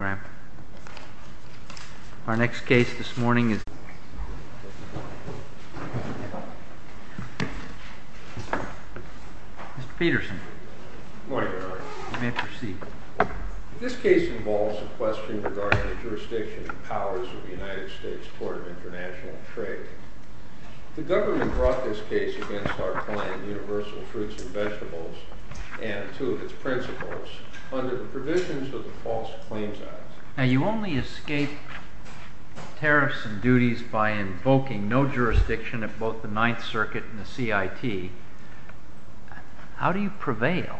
and Vegetables, and two of its principles, under the provisions of the False Claims Act. Now, you only escape tariffs and duties by invoking no jurisdiction at both the Ninth Circuit and the CIT. How do you prevail?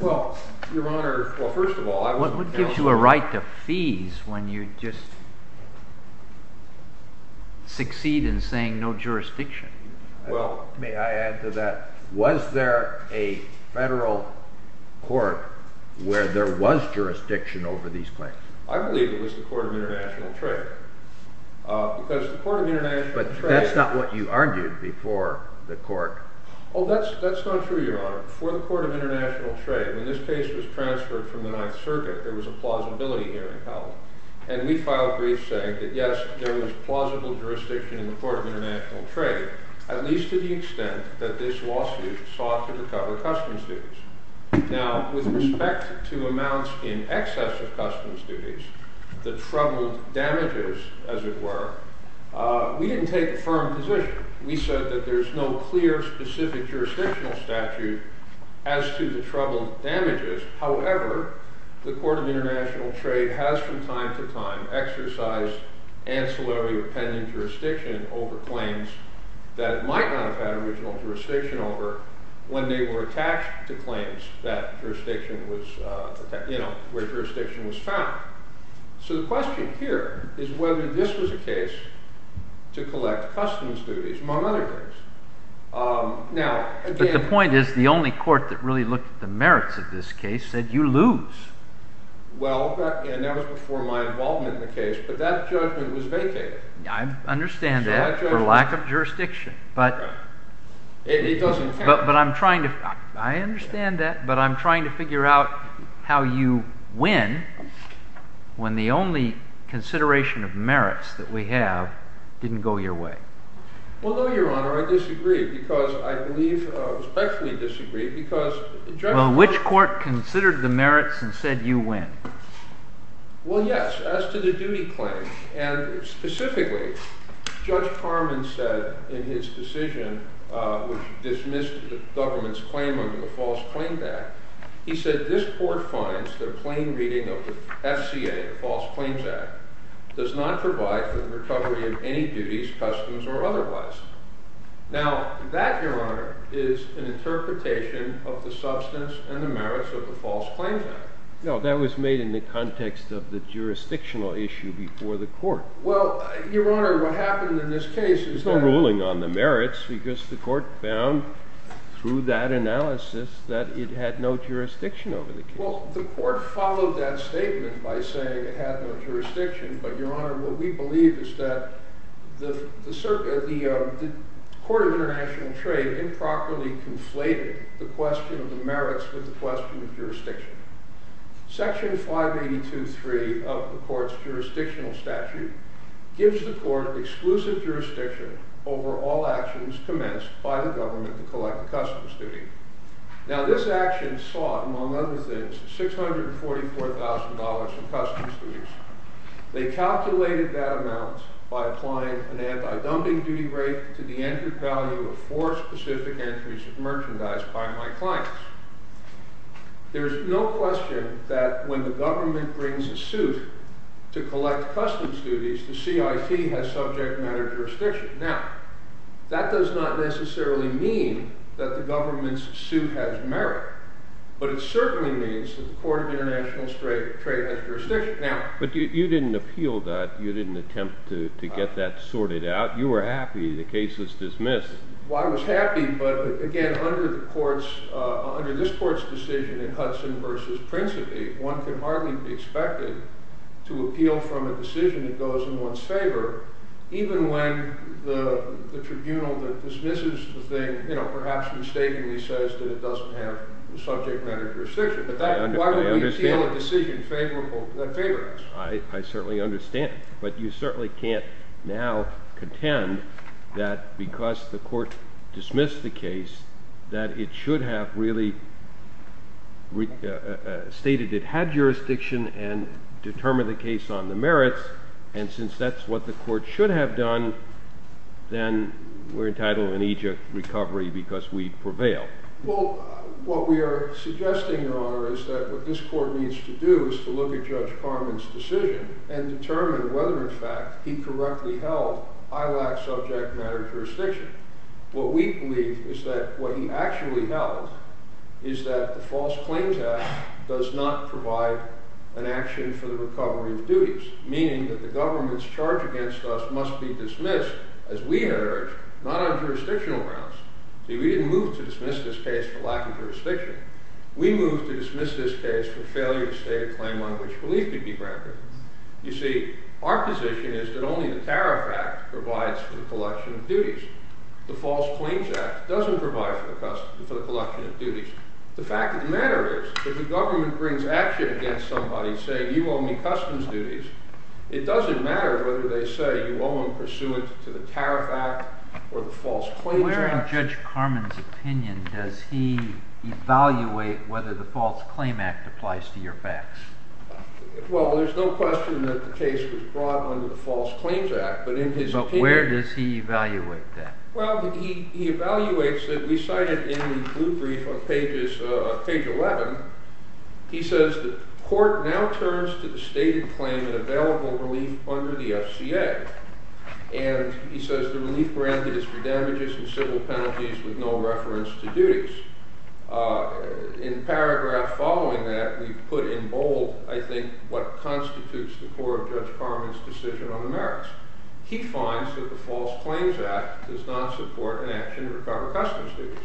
Well, Your Honor, first of all, I wasn't... What gives you a right to fees when you just succeed in saying no jurisdiction? Well, may I add to that, was there a federal court where there was jurisdiction over these claims? I believe it was the Court of International Trade, because the Court of International Trade... But that's not what you argued before the court. Oh, that's not true, Your Honor. Before the Court of International Trade, when this case was transferred from the Ninth Circuit, there was a plausibility hearing held. And we filed briefs saying that, yes, there was plausible jurisdiction in the Court of International Trade, at least to the extent that this lawsuit sought to recover customs duties. Now, with respect to amounts in excess of customs duties, the troubled damages, as it were, we didn't take a firm position. We said that there's no clear, specific jurisdictional statute as to the troubled damages. However, the Court of International Trade has, from time to time, exercised ancillary or pending jurisdiction over claims that it might not have had original jurisdiction over when they were attached to claims where jurisdiction was found. So the question here is whether this was a case to collect customs duties, among other things. But the point is, the only court that really looked at the merits of this case said, you lose. Well, and that was before my involvement in the case, but that judgment was vacated. I understand that, for lack of jurisdiction. It doesn't count. I understand that, but I'm trying to figure out how you win when the only consideration of merits that we have didn't go your way. Well, no, Your Honor. I disagree, because I believe, respectfully disagree, because the judge Well, which court considered the merits and said you win? Well, yes. As to the duty claim, and specifically, Judge Harmon said in his decision, which dismissed the government's claim under the False Claims Act, he said, this court finds the plain reading of the FCA, the False Claims Act, does not provide for the recovery of any duties, customs, or otherwise. Now, that, Your Honor, is an interpretation of the substance and the merits of the False Claims Act. No, that was made in the context of the jurisdictional issue before the court. Well, Your Honor, what happened in this case is that because the court found, through that analysis, that it had no jurisdiction over the case. Well, the court followed that statement by saying it had no jurisdiction. But, Your Honor, what we believe is that the Court of International Trade improperly conflated the question of the merits with the question of jurisdiction. Section 582.3 of the court's jurisdictional statute gives the court exclusive jurisdiction over all actions commenced by the government to collect a customs duty. Now, this action sought, among other things, $644,000 in customs duties. They calculated that amount by applying an anti-dumping duty rate to the entered value of four specific entries of merchandise by my clients. There is no question that when the government brings a suit to collect customs duties, the CIT has subject matter jurisdiction. Now, that does not necessarily mean that the government's suit has merit, but it certainly means that the Court of International Trade has jurisdiction. But you didn't appeal that. You didn't attempt to get that sorted out. You were happy the case was dismissed. Well, I was happy, but, again, under this court's decision in Hudson v. Principi, one can hardly be expected to appeal from a decision that goes in one's favor, even when the tribunal that dismisses the thing perhaps mistakenly says that it doesn't have subject matter jurisdiction. But why would we appeal a decision that favors us? I certainly understand, but you certainly can't now contend that because the court dismissed the case, that it should have really stated it had jurisdiction and determined the case on the merits. And since that's what the court should have done, then we're entitled in Egypt recovery because we prevailed. Well, what we are suggesting, Your Honor, is that what this court needs to do is to look at Judge Carman's decision and determine whether, in fact, he correctly held, I lack subject matter jurisdiction. What we believe is that what he actually held is that the False Claims Act does not provide an action for the recovery of duties, meaning that the government's charge against us must be dismissed, as we had urged, not on jurisdictional grounds. See, we didn't move to dismiss this case for lack of jurisdiction. We moved to dismiss this case for failure to state a claim on which relief could be granted. You see, our position is that only the Tariff Act provides for the collection of duties. The False Claims Act doesn't provide for the collection of duties. The fact of the matter is that if the government brings action against somebody saying you owe me customs duties, it doesn't matter whether they say you owe them pursuant to the Tariff Act or the False Claims Act. Where in Judge Carman's opinion does he evaluate whether the False Claims Act applies to your facts? Well, there's no question that the case was brought under the False Claims Act, but in his opinion... But where does he evaluate that? Well, he evaluates it. We cite it in the blue brief on page 11. He says that the court now turns to the stated claim of available relief under the FCA. And he says the relief grant is for damages and civil penalties with no reference to duties. In paragraph following that, we put in bold, I think, what constitutes the core of Judge Carman's decision on the merits. He finds that the False Claims Act does not support an action to recover customs duties.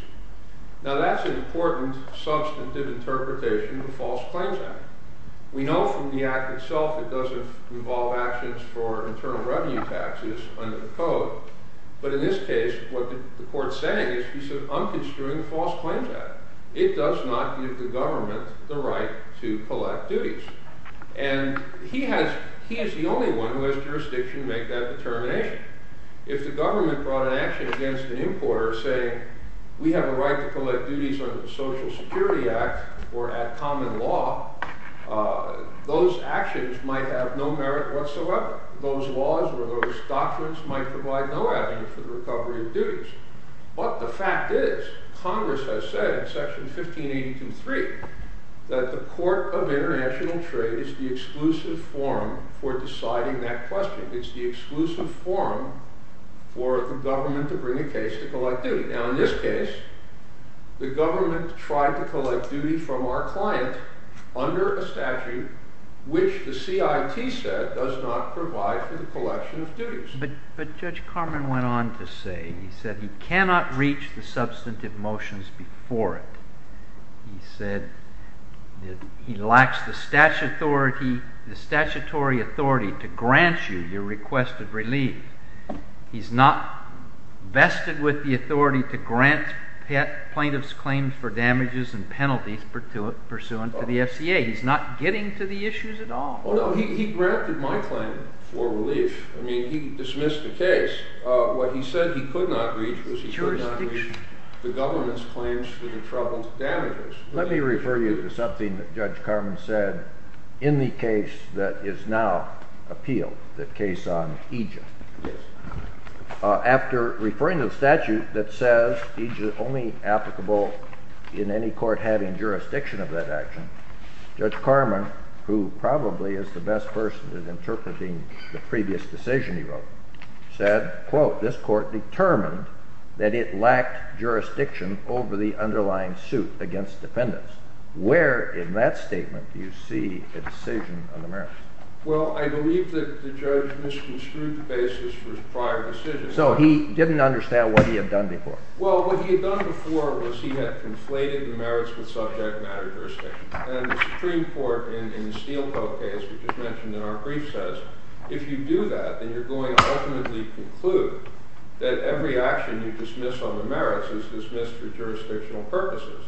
Now that's an important substantive interpretation of the False Claims Act. We know from the act itself it doesn't involve actions for internal revenue taxes under the code. But in this case, what the court's saying is he's unconstruing the False Claims Act. It does not give the government the right to collect duties. And he is the only one who has jurisdiction to make that determination. If the government brought an action against an importer saying, we have a right to collect duties under the Social Security Act or add common law, those actions might have no merit whatsoever. Those laws or those doctrines might provide no avenue for the recovery of duties. But the fact is, Congress has said in section 1583, that the Court of International Trade is the exclusive forum for deciding that question. It's the exclusive forum for the government to bring a case to collect duty. Now in this case, the government tried to collect duty from our client under a statute which the CIT said does not provide for the collection of duties. But Judge Carman went on to say, he said he cannot reach the substantive motions before it. He said he lacks the statutory authority to grant you your request of relief. He's not vested with the authority to grant plaintiffs claims for damages and penalties pursuant to the FCA. He's not getting to the issues at all. No, he granted my claim for relief. I mean, he dismissed the case. What he said he could not reach was he could not reach the government's claims for the troubled damages. Let me refer you to something that Judge Carman said in the case that is now appealed, the case on Egypt. Yes. After referring to the statute that says Egypt is only applicable in any court having jurisdiction of that action, Judge Carman, who probably is the best person at interpreting the previous decision he wrote, said, quote, this court determined that it lacked jurisdiction over the underlying suit against defendants. Where in that statement do you see a decision on the merits? Well, I believe that the judge misconstrued the basis for his prior decision. So he didn't understand what he had done before. Well, what he had done before was he had conflated the merits with subject matter jurisdiction. And the Supreme Court in the Steelco case, which is mentioned in our brief, says if you do that, then you're going to ultimately conclude that every action you dismiss on the merits is dismissed for jurisdictional purposes.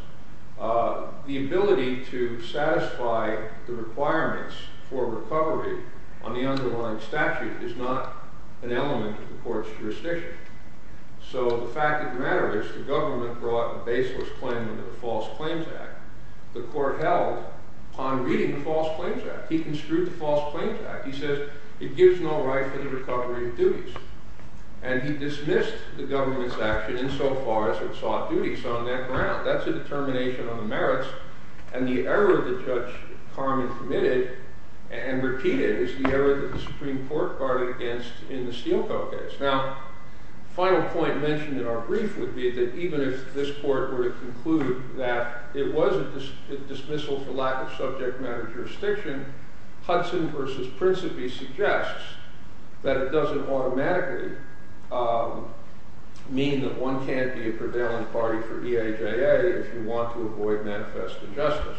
The ability to satisfy the requirements for recovery on the underlying statute is not an element of the court's jurisdiction. So the fact of the matter is the government brought a baseless claim under the False Claims Act. The court held on reading the False Claims Act. He construed the False Claims Act. He says it gives no right for the recovery of duties. And he dismissed the government's action insofar as it sought duties on that ground. That's a determination on the merits. And the error that Judge Carman committed and repeated is the error that the Supreme Court guarded against in the Steelco case. Now, the final point mentioned in our brief would be that even if this court were to conclude that it was a dismissal for lack of subject matter jurisdiction, Hudson versus Principe suggests that it doesn't automatically mean that one can't be a prevailing party for EIJA if you want to avoid manifest injustice.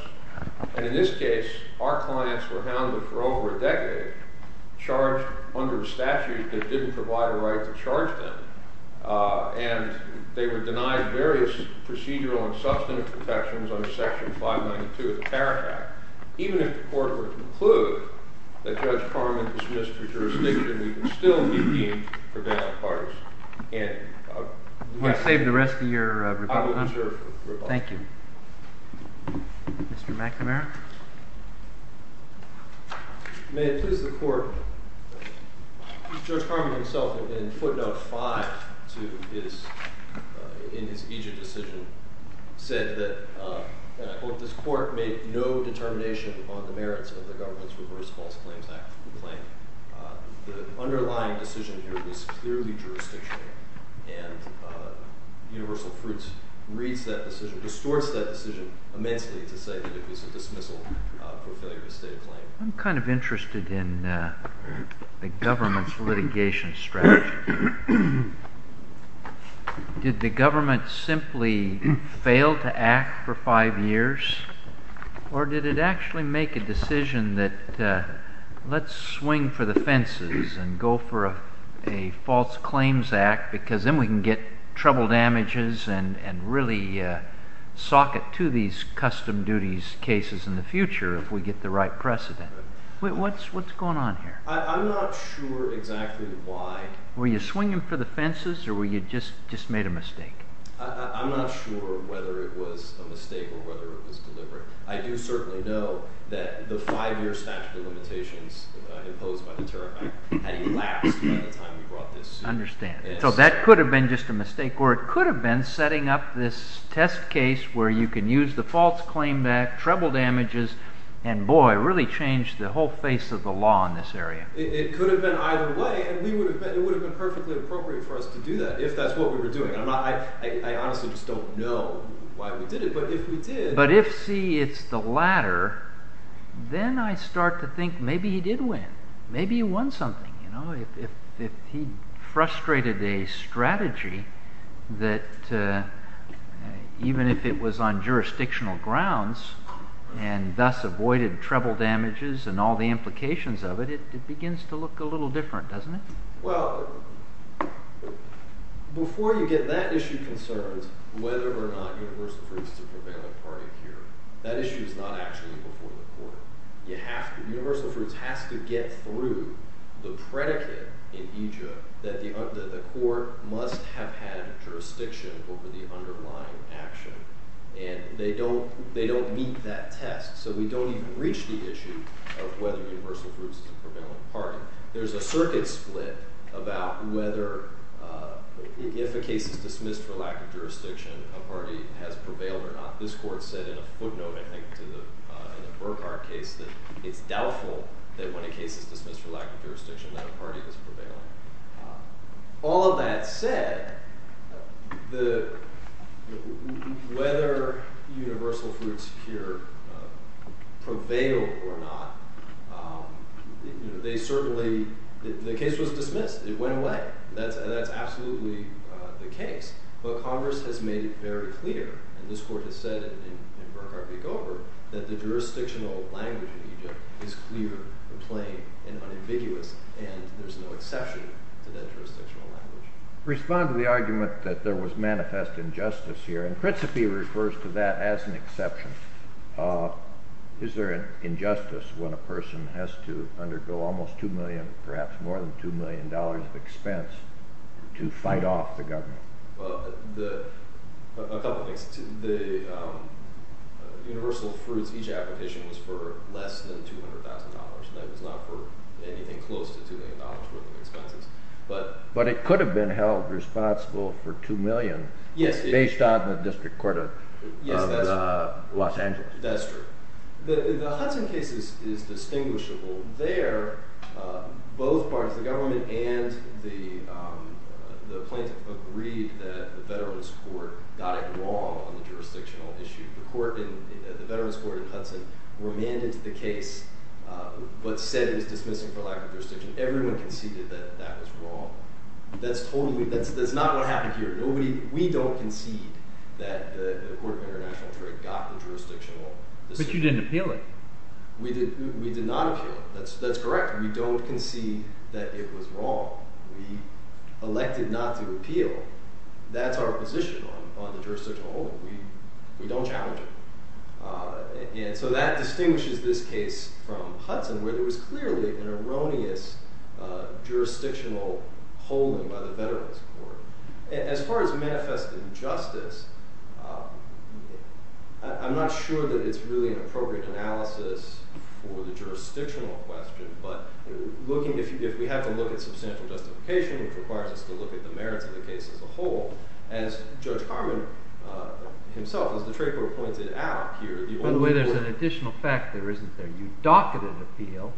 And in this case, our clients were hounded for over a decade, charged under a statute that didn't provide a right to charge them. And they were denied various procedural and substantive protections under Section 592 of the Parapract. Even if the court were to conclude that Judge Carman was dismissed for jurisdiction, we would still be deemed a prevailing party. And I'll do my best. You want to save the rest of your rebuttal, huh? I will reserve for rebuttal. Thank you. Mr. McNamara? May it please the Court. Judge Carman himself, in footnote 5 in his EIJA decision, said that, and I quote, this court made no determination on the merits of the government's Reverse False Claims Act complaint. The underlying decision here was clearly jurisdictional. And Universal Fruits reads that decision, distorts that decision immensely to say that it was a dismissal for failure to state a claim. I'm kind of interested in the government's litigation strategy. Did the government simply fail to act for five years? Or did it actually make a decision that let's swing for the fences and go for a False Claims Act, because then we can get trouble damages and really socket to these custom duties cases in the future if we get the right precedent? What's going on here? I'm not sure exactly why. Were you swinging for the fences or were you just made a mistake? I'm not sure whether it was a mistake or whether it was deliberate. I do certainly know that the five-year statute of limitations imposed by the Tariff Act had elapsed by the time we brought this suit in. I understand. So that could have been just a mistake, or it could have been setting up this test case where you can use the False Claims Act, trouble damages, and boy, it really changed the whole face of the law in this area. It could have been either way, and it would have been perfectly appropriate for us to do that if that's what we were doing. I honestly just don't know why we did it, but if we did… But if, see, it's the latter, then I start to think maybe he did win. Maybe he won something. If he frustrated a strategy that, even if it was on jurisdictional grounds and thus avoided trouble damages and all the implications of it, it begins to look a little different, doesn't it? Well, before you get that issue concerned, whether or not universal fruits is a prevalent part of here, that issue is not actually before the court. Universal fruits has to get through the predicate in Egypt that the court must have had jurisdiction over the underlying action. And they don't meet that test, so we don't even reach the issue of whether universal fruits is a prevalent part. There's a circuit split about whether, if a case is dismissed for lack of jurisdiction, a party has prevailed or not. This court said in a footnote, I think, to the Burkhart case that it's doubtful that when a case is dismissed for lack of jurisdiction that a party is prevailing. All of that said, whether universal fruits here prevail or not, they certainly – the case was dismissed. It went away. That's absolutely the case. But Congress has made it very clear, and this court has said in Burkhart v. Gover, that the jurisdictional language in Egypt is clear and plain and unambiguous, and there's no exception to that jurisdictional language. Respond to the argument that there was manifest injustice here. In principle, he refers to that as an exception. Is there an injustice when a person has to undergo almost two million, perhaps more than two million dollars of expense to fight off the government? Well, a couple of things. The universal fruits, each application was for less than $200,000, and that was not for anything close to $2 million worth of expenses. But it could have been held responsible for two million based on the district court of Los Angeles. Yes, that's true. The Hudson case is distinguishable. Both parties, the government and the plaintiff, agreed that the Veterans Court got it wrong on the jurisdictional issue. The Veterans Court in Hudson remanded the case but said it was dismissing for lack of jurisdiction. Everyone conceded that that was wrong. That's totally – that's not what happened here. We don't concede that the court of international trade got the jurisdictional decision. But you didn't appeal it. We did not appeal it. That's correct. We don't concede that it was wrong. We elected not to appeal. That's our position on the jurisdictional holding. We don't challenge it. And so that distinguishes this case from Hudson where there was clearly an erroneous jurisdictional holding by the Veterans Court. As far as manifesting justice, I'm not sure that it's really an appropriate analysis for the jurisdictional question. But looking – if we have to look at substantial justification, which requires us to look at the merits of the case as a whole, as Judge Harmon himself, as the trade court pointed out here – By the way, there's an additional factor, isn't there? You docketed appeal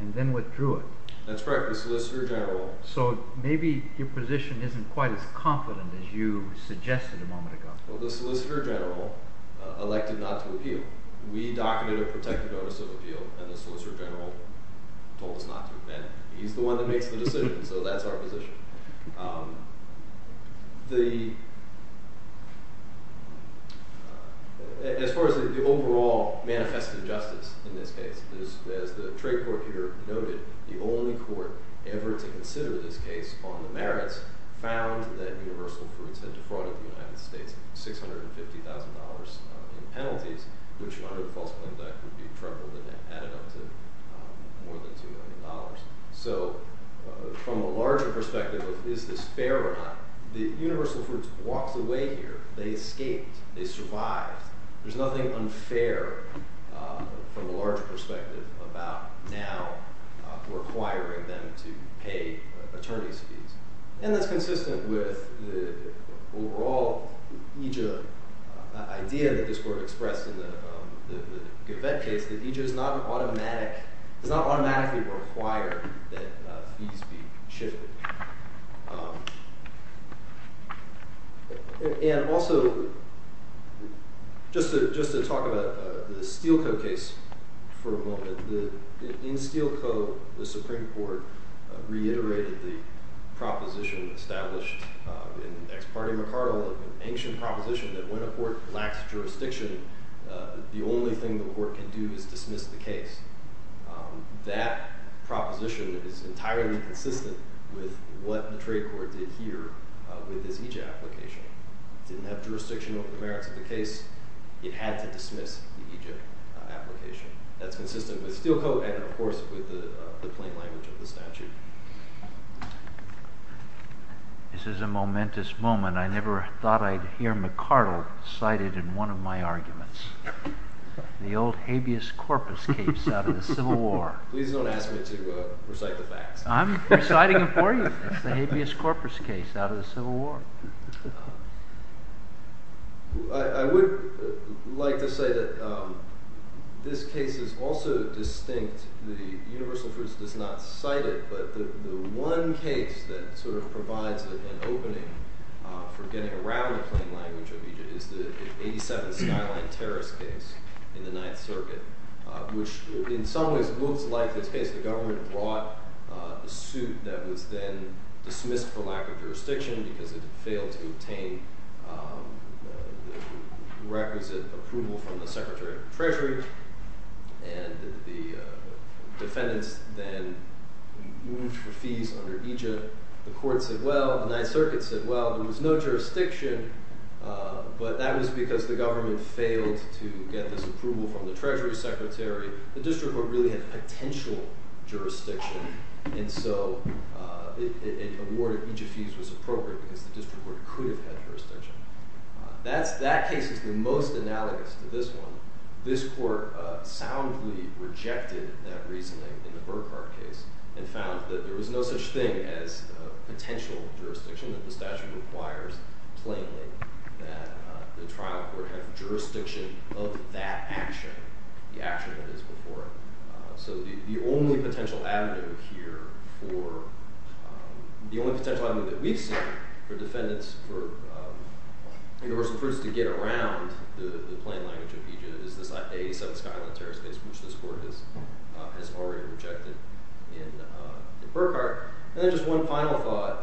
and then withdrew it. That's correct. We solicited a general. So maybe your position isn't quite as confident as you suggested a moment ago. Well, the solicitor general elected not to appeal. We docketed a protective notice of appeal, and the solicitor general told us not to. And he's the one that makes the decision, so that's our position. As far as the overall manifested justice in this case, as the trade court here noted, the only court ever to consider this case on the merits found that Universal Fruits had defrauded the United States $650,000 in penalties, which under the False Plaintiff Act would be trebled and added up to more than $200,000. So from a larger perspective, is this fair or not? Universal Fruits walked away here. They escaped. They survived. There's nothing unfair from a larger perspective about now requiring them to pay attorney's fees. And that's consistent with the overall IJIA idea that this court expressed in the Gavette case, that IJIA does not automatically require that fees be shifted. And also, just to talk about the Steele Co. case for a moment, in Steele Co., the Supreme Court reiterated the proposition established in ex parte micardo of an ancient proposition that when a court lacks jurisdiction, the only thing the court can do is dismiss the case. That proposition is entirely consistent with what the trade court did here with this IJIA application. It didn't have jurisdiction over the merits of the case. It had to dismiss the IJIA application. That's consistent with Steele Co. and, of course, with the plain language of the statute. This is a momentous moment. I never thought I'd hear McCardle cited in one of my arguments. The old habeas corpus case out of the Civil War. Please don't ask me to recite the facts. I'm reciting them for you. It's the habeas corpus case out of the Civil War. I would like to say that this case is also distinct. The Universal First does not cite it, but the one case that sort of provides an opening for getting around the plain language of IJIA is the 87th Skyline Terrace case in the Ninth Circuit, which in some ways looks like this case. The government brought a suit that was then dismissed for lack of jurisdiction because it failed to obtain requisite approval from the Secretary of the Treasury, and the defendants then moved for fees under IJIA. The court said well. The Ninth Circuit said well. There was no jurisdiction, but that was because the government failed to get this approval from the Treasury Secretary. The district court really had potential jurisdiction, and so it awarded IJIA fees was appropriate because the district court could have had jurisdiction. That case is the most analogous to this one. This court soundly rejected that reasoning in the Burkhart case and found that there was no such thing as potential jurisdiction, that the statute requires plainly that the trial court have jurisdiction of that action, the action that is before it. So the only potential avenue here for, the only potential avenue that we've seen for defendants for universal proofs to get around the plain language of IJIA is this 87th Skyline Terrace case, which this court has already rejected in Burkhart. And then just one final thought.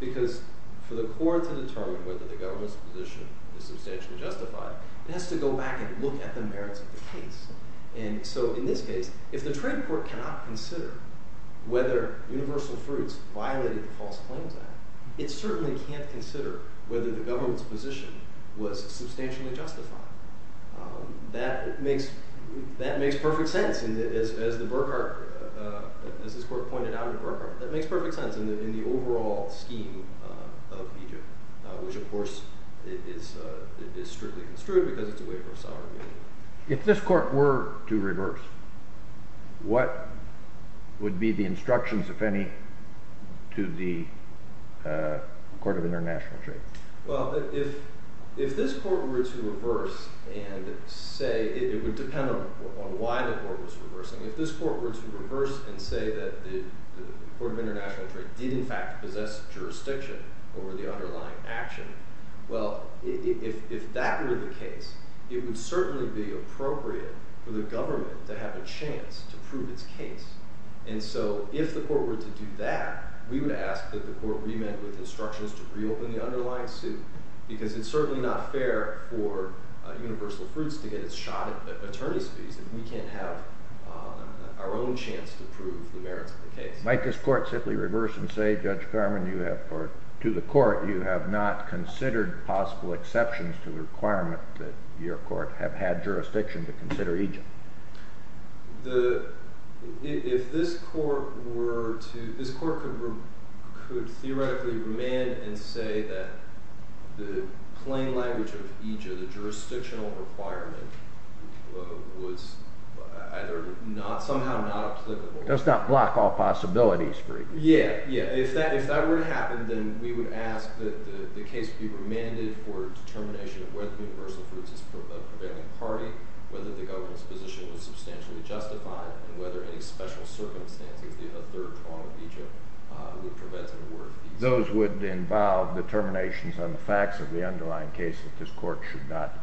Because for the court to determine whether the government's position is substantially justified, it has to go back and look at the merits of the case. And so in this case, if the trade court cannot consider whether universal proofs violated the False Claims Act, it certainly can't consider whether the government's position was substantially justified. That makes perfect sense. As the Burkhart, as this court pointed out in Burkhart, that makes perfect sense in the overall scheme of IJIA, which of course is strictly construed because it's a waiver of sovereign immunity. If this court were to reverse, what would be the instructions, if any, to the Court of International Trade? Well, if this court were to reverse and say, it would depend on why the court was reversing. If this court were to reverse and say that the Court of International Trade did in fact possess jurisdiction over the underlying action, well, if that were the case, it would certainly be appropriate for the government to have a chance to prove its case. And so if the court were to do that, we would ask that the court remit with instructions to reopen the underlying suit, because it's certainly not fair for universal proofs to get its shot at attorney's fees, and we can't have our own chance to prove the merits of the case. Might this court simply reverse and say, Judge Carman, to the court, you have not considered possible exceptions to the requirement that your court have had jurisdiction to consider IJIA? If this court were to, this court could theoretically remand and say that the plain language of IJIA, the jurisdictional requirement, was somehow not applicable. Does not block all possibilities for IJIA. Yeah, yeah. If that were to happen, then we would ask that the case be remanded for determination of whether the universal proofs is a prevailing party, whether the government's position was substantially justified, and whether any special circumstances, the third prong of IJIA, would prevent them from working. Those would involve determinations on the facts of the underlying case that this court should not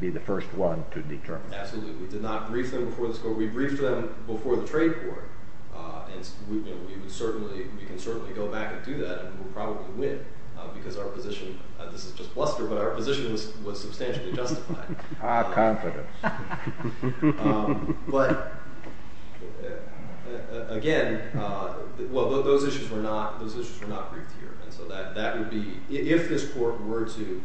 be the first one to determine. Absolutely. We did not brief them before this court. We briefed them before the trade court, and we can certainly go back and do that, and we'll probably win, because our position, this is just bluster, but our position was substantially justified. Our confidence. But again, well, those issues were not briefed here. And so that would be, if this court were to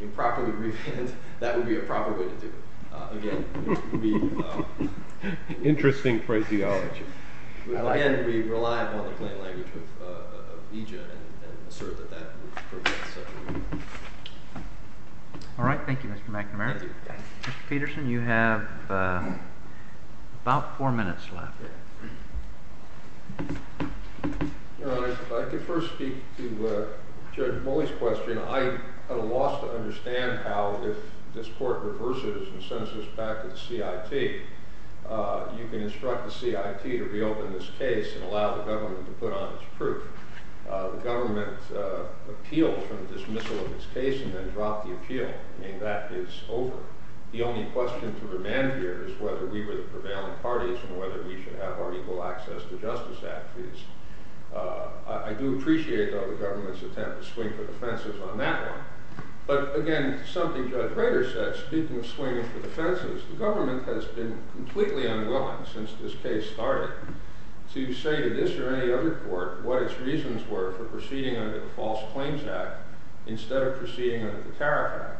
improperly remand, that would be a proper way to do it. Again, it would be— Interesting phraseology. Again, we rely upon the plain language of IJIA and assert that that would prevent such a remand. All right. Thank you, Mr. McNamara. Thank you. Mr. Peterson, you have about four minutes left. Your Honor, if I could first speak to Judge Moley's question. I at a loss to understand how, if this court reverses and sends this back to the CIT, you can instruct the CIT to reopen this case and allow the government to put on its proof. The government appealed for the dismissal of its case and then dropped the appeal. I mean, that is over. The only question to remand here is whether we were the prevailing parties and whether we should have our equal access to justice act fees. I do appreciate, though, the government's attempt to swing for the fences on that one. But again, something Judge Rader said, speaking of swinging for the fences, the government has been completely unwilling since this case started to say to this or any other court what its reasons were for proceeding under the False Claims Act instead of proceeding under the Tariff Act.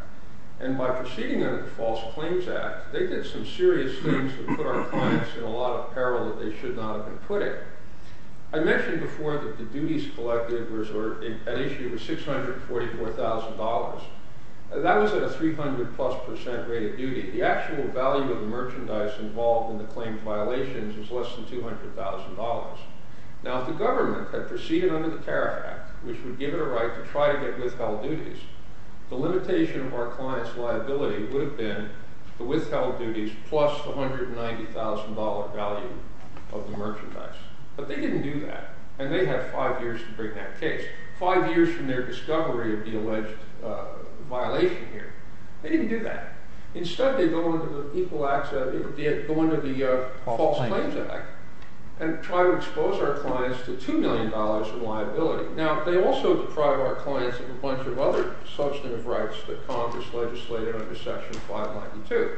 And by proceeding under the False Claims Act, they did some serious things that put our clients in a lot of peril that they should not have been putting. I mentioned before that the duties collected at issue were $644,000. That was at a 300-plus percent rate of duty. The actual value of the merchandise involved in the claimed violations was less than $200,000. Now, if the government had proceeded under the Tariff Act, which would give it a right to try to get withheld duties, the limitation of our client's liability would have been the withheld duties plus the $190,000 value of the merchandise. But they didn't do that. And they have five years to bring that case, five years from their discovery of the alleged violation here. They didn't do that. Instead, they go into the False Claims Act and try to expose our clients to $2 million in liability. Now, they also deprive our clients of a bunch of other substantive rights that Congress legislated under Section 592.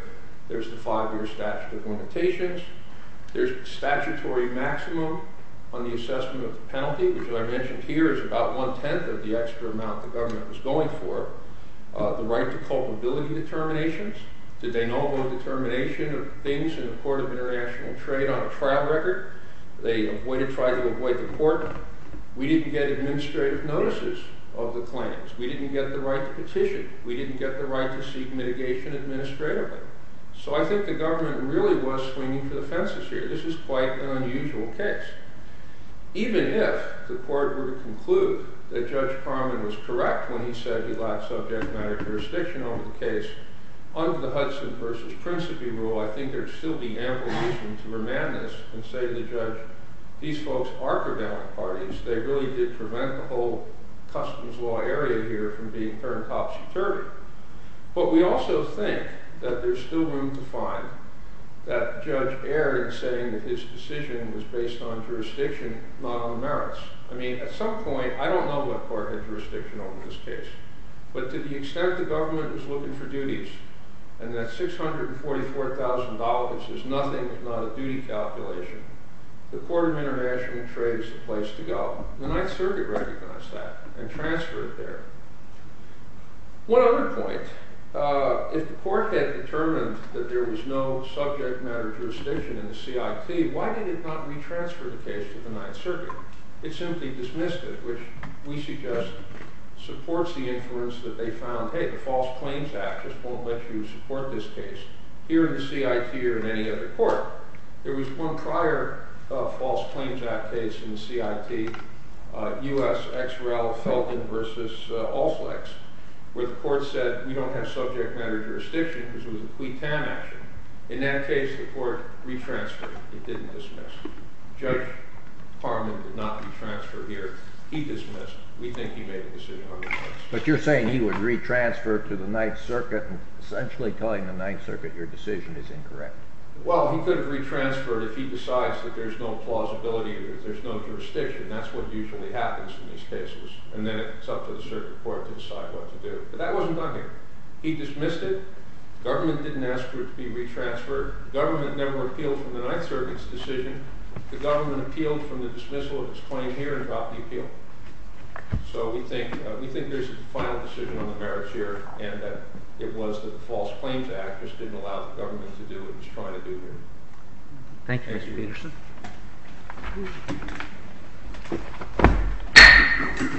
There's the five-year statute of limitations. There's statutory maximum on the assessment of the penalty, which I mentioned here is about one-tenth of the extra amount the government was going for. The right to culpability determinations. Did they know about determination of things in the Court of International Trade on a trial record? Did they try to avoid the court? We didn't get administrative notices of the claims. We didn't get the right to petition. We didn't get the right to seek mitigation administratively. So I think the government really was swinging for the fences here. This is quite an unusual case. Even if the court were to conclude that Judge Parman was correct when he said he lacked subject matter jurisdiction on the case, under the Hudson v. Principi rule, I think there would still be ample reason to remand this and say to the judge, these folks are prevalent parties. They really did prevent the whole customs law area here from being turned topsy-turvy. But we also think that there's still room to find that Judge Ayer in saying that his decision was based on jurisdiction, not on merits. I mean, at some point, I don't know what part had jurisdiction over this case. But to the extent the government was looking for duties, and that $644,000 is nothing if not a duty calculation, the Court of International Trade is the place to go. The Ninth Circuit recognized that and transferred it there. One other point. If the court had determined that there was no subject matter jurisdiction in the CIT, why did it not retransfer the case to the Ninth Circuit? It simply dismissed it, which we suggest supports the inference that they found, hey, the False Claims Act just won't let you support this case here in the CIT or in any other court. There was one prior False Claims Act case in the CIT, U.S. X. Rel. Felton v. Allslex, where the court said we don't have subject matter jurisdiction because it was a quitan action. In that case, the court retransferred. It didn't dismiss it. Judge Harman did not retransfer here. He dismissed it. We think he made a decision on this case. But you're saying he would retransfer to the Ninth Circuit and essentially telling the Ninth Circuit your decision is incorrect. Well, he could have retransferred if he decides that there's no plausibility, there's no jurisdiction. That's what usually happens in these cases. And then it's up to the circuit court to decide what to do. But that wasn't done here. He dismissed it. The government didn't ask for it to be retransferred. The government never appealed for the Ninth Circuit's decision. The government appealed for the dismissal of its claim here and dropped the appeal. So we think there's a final decision on the merits here, and that it was that the False Claims Act just didn't allow the government to do what it was trying to do here. Thank you, Mr.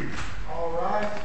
Peterson. All rise.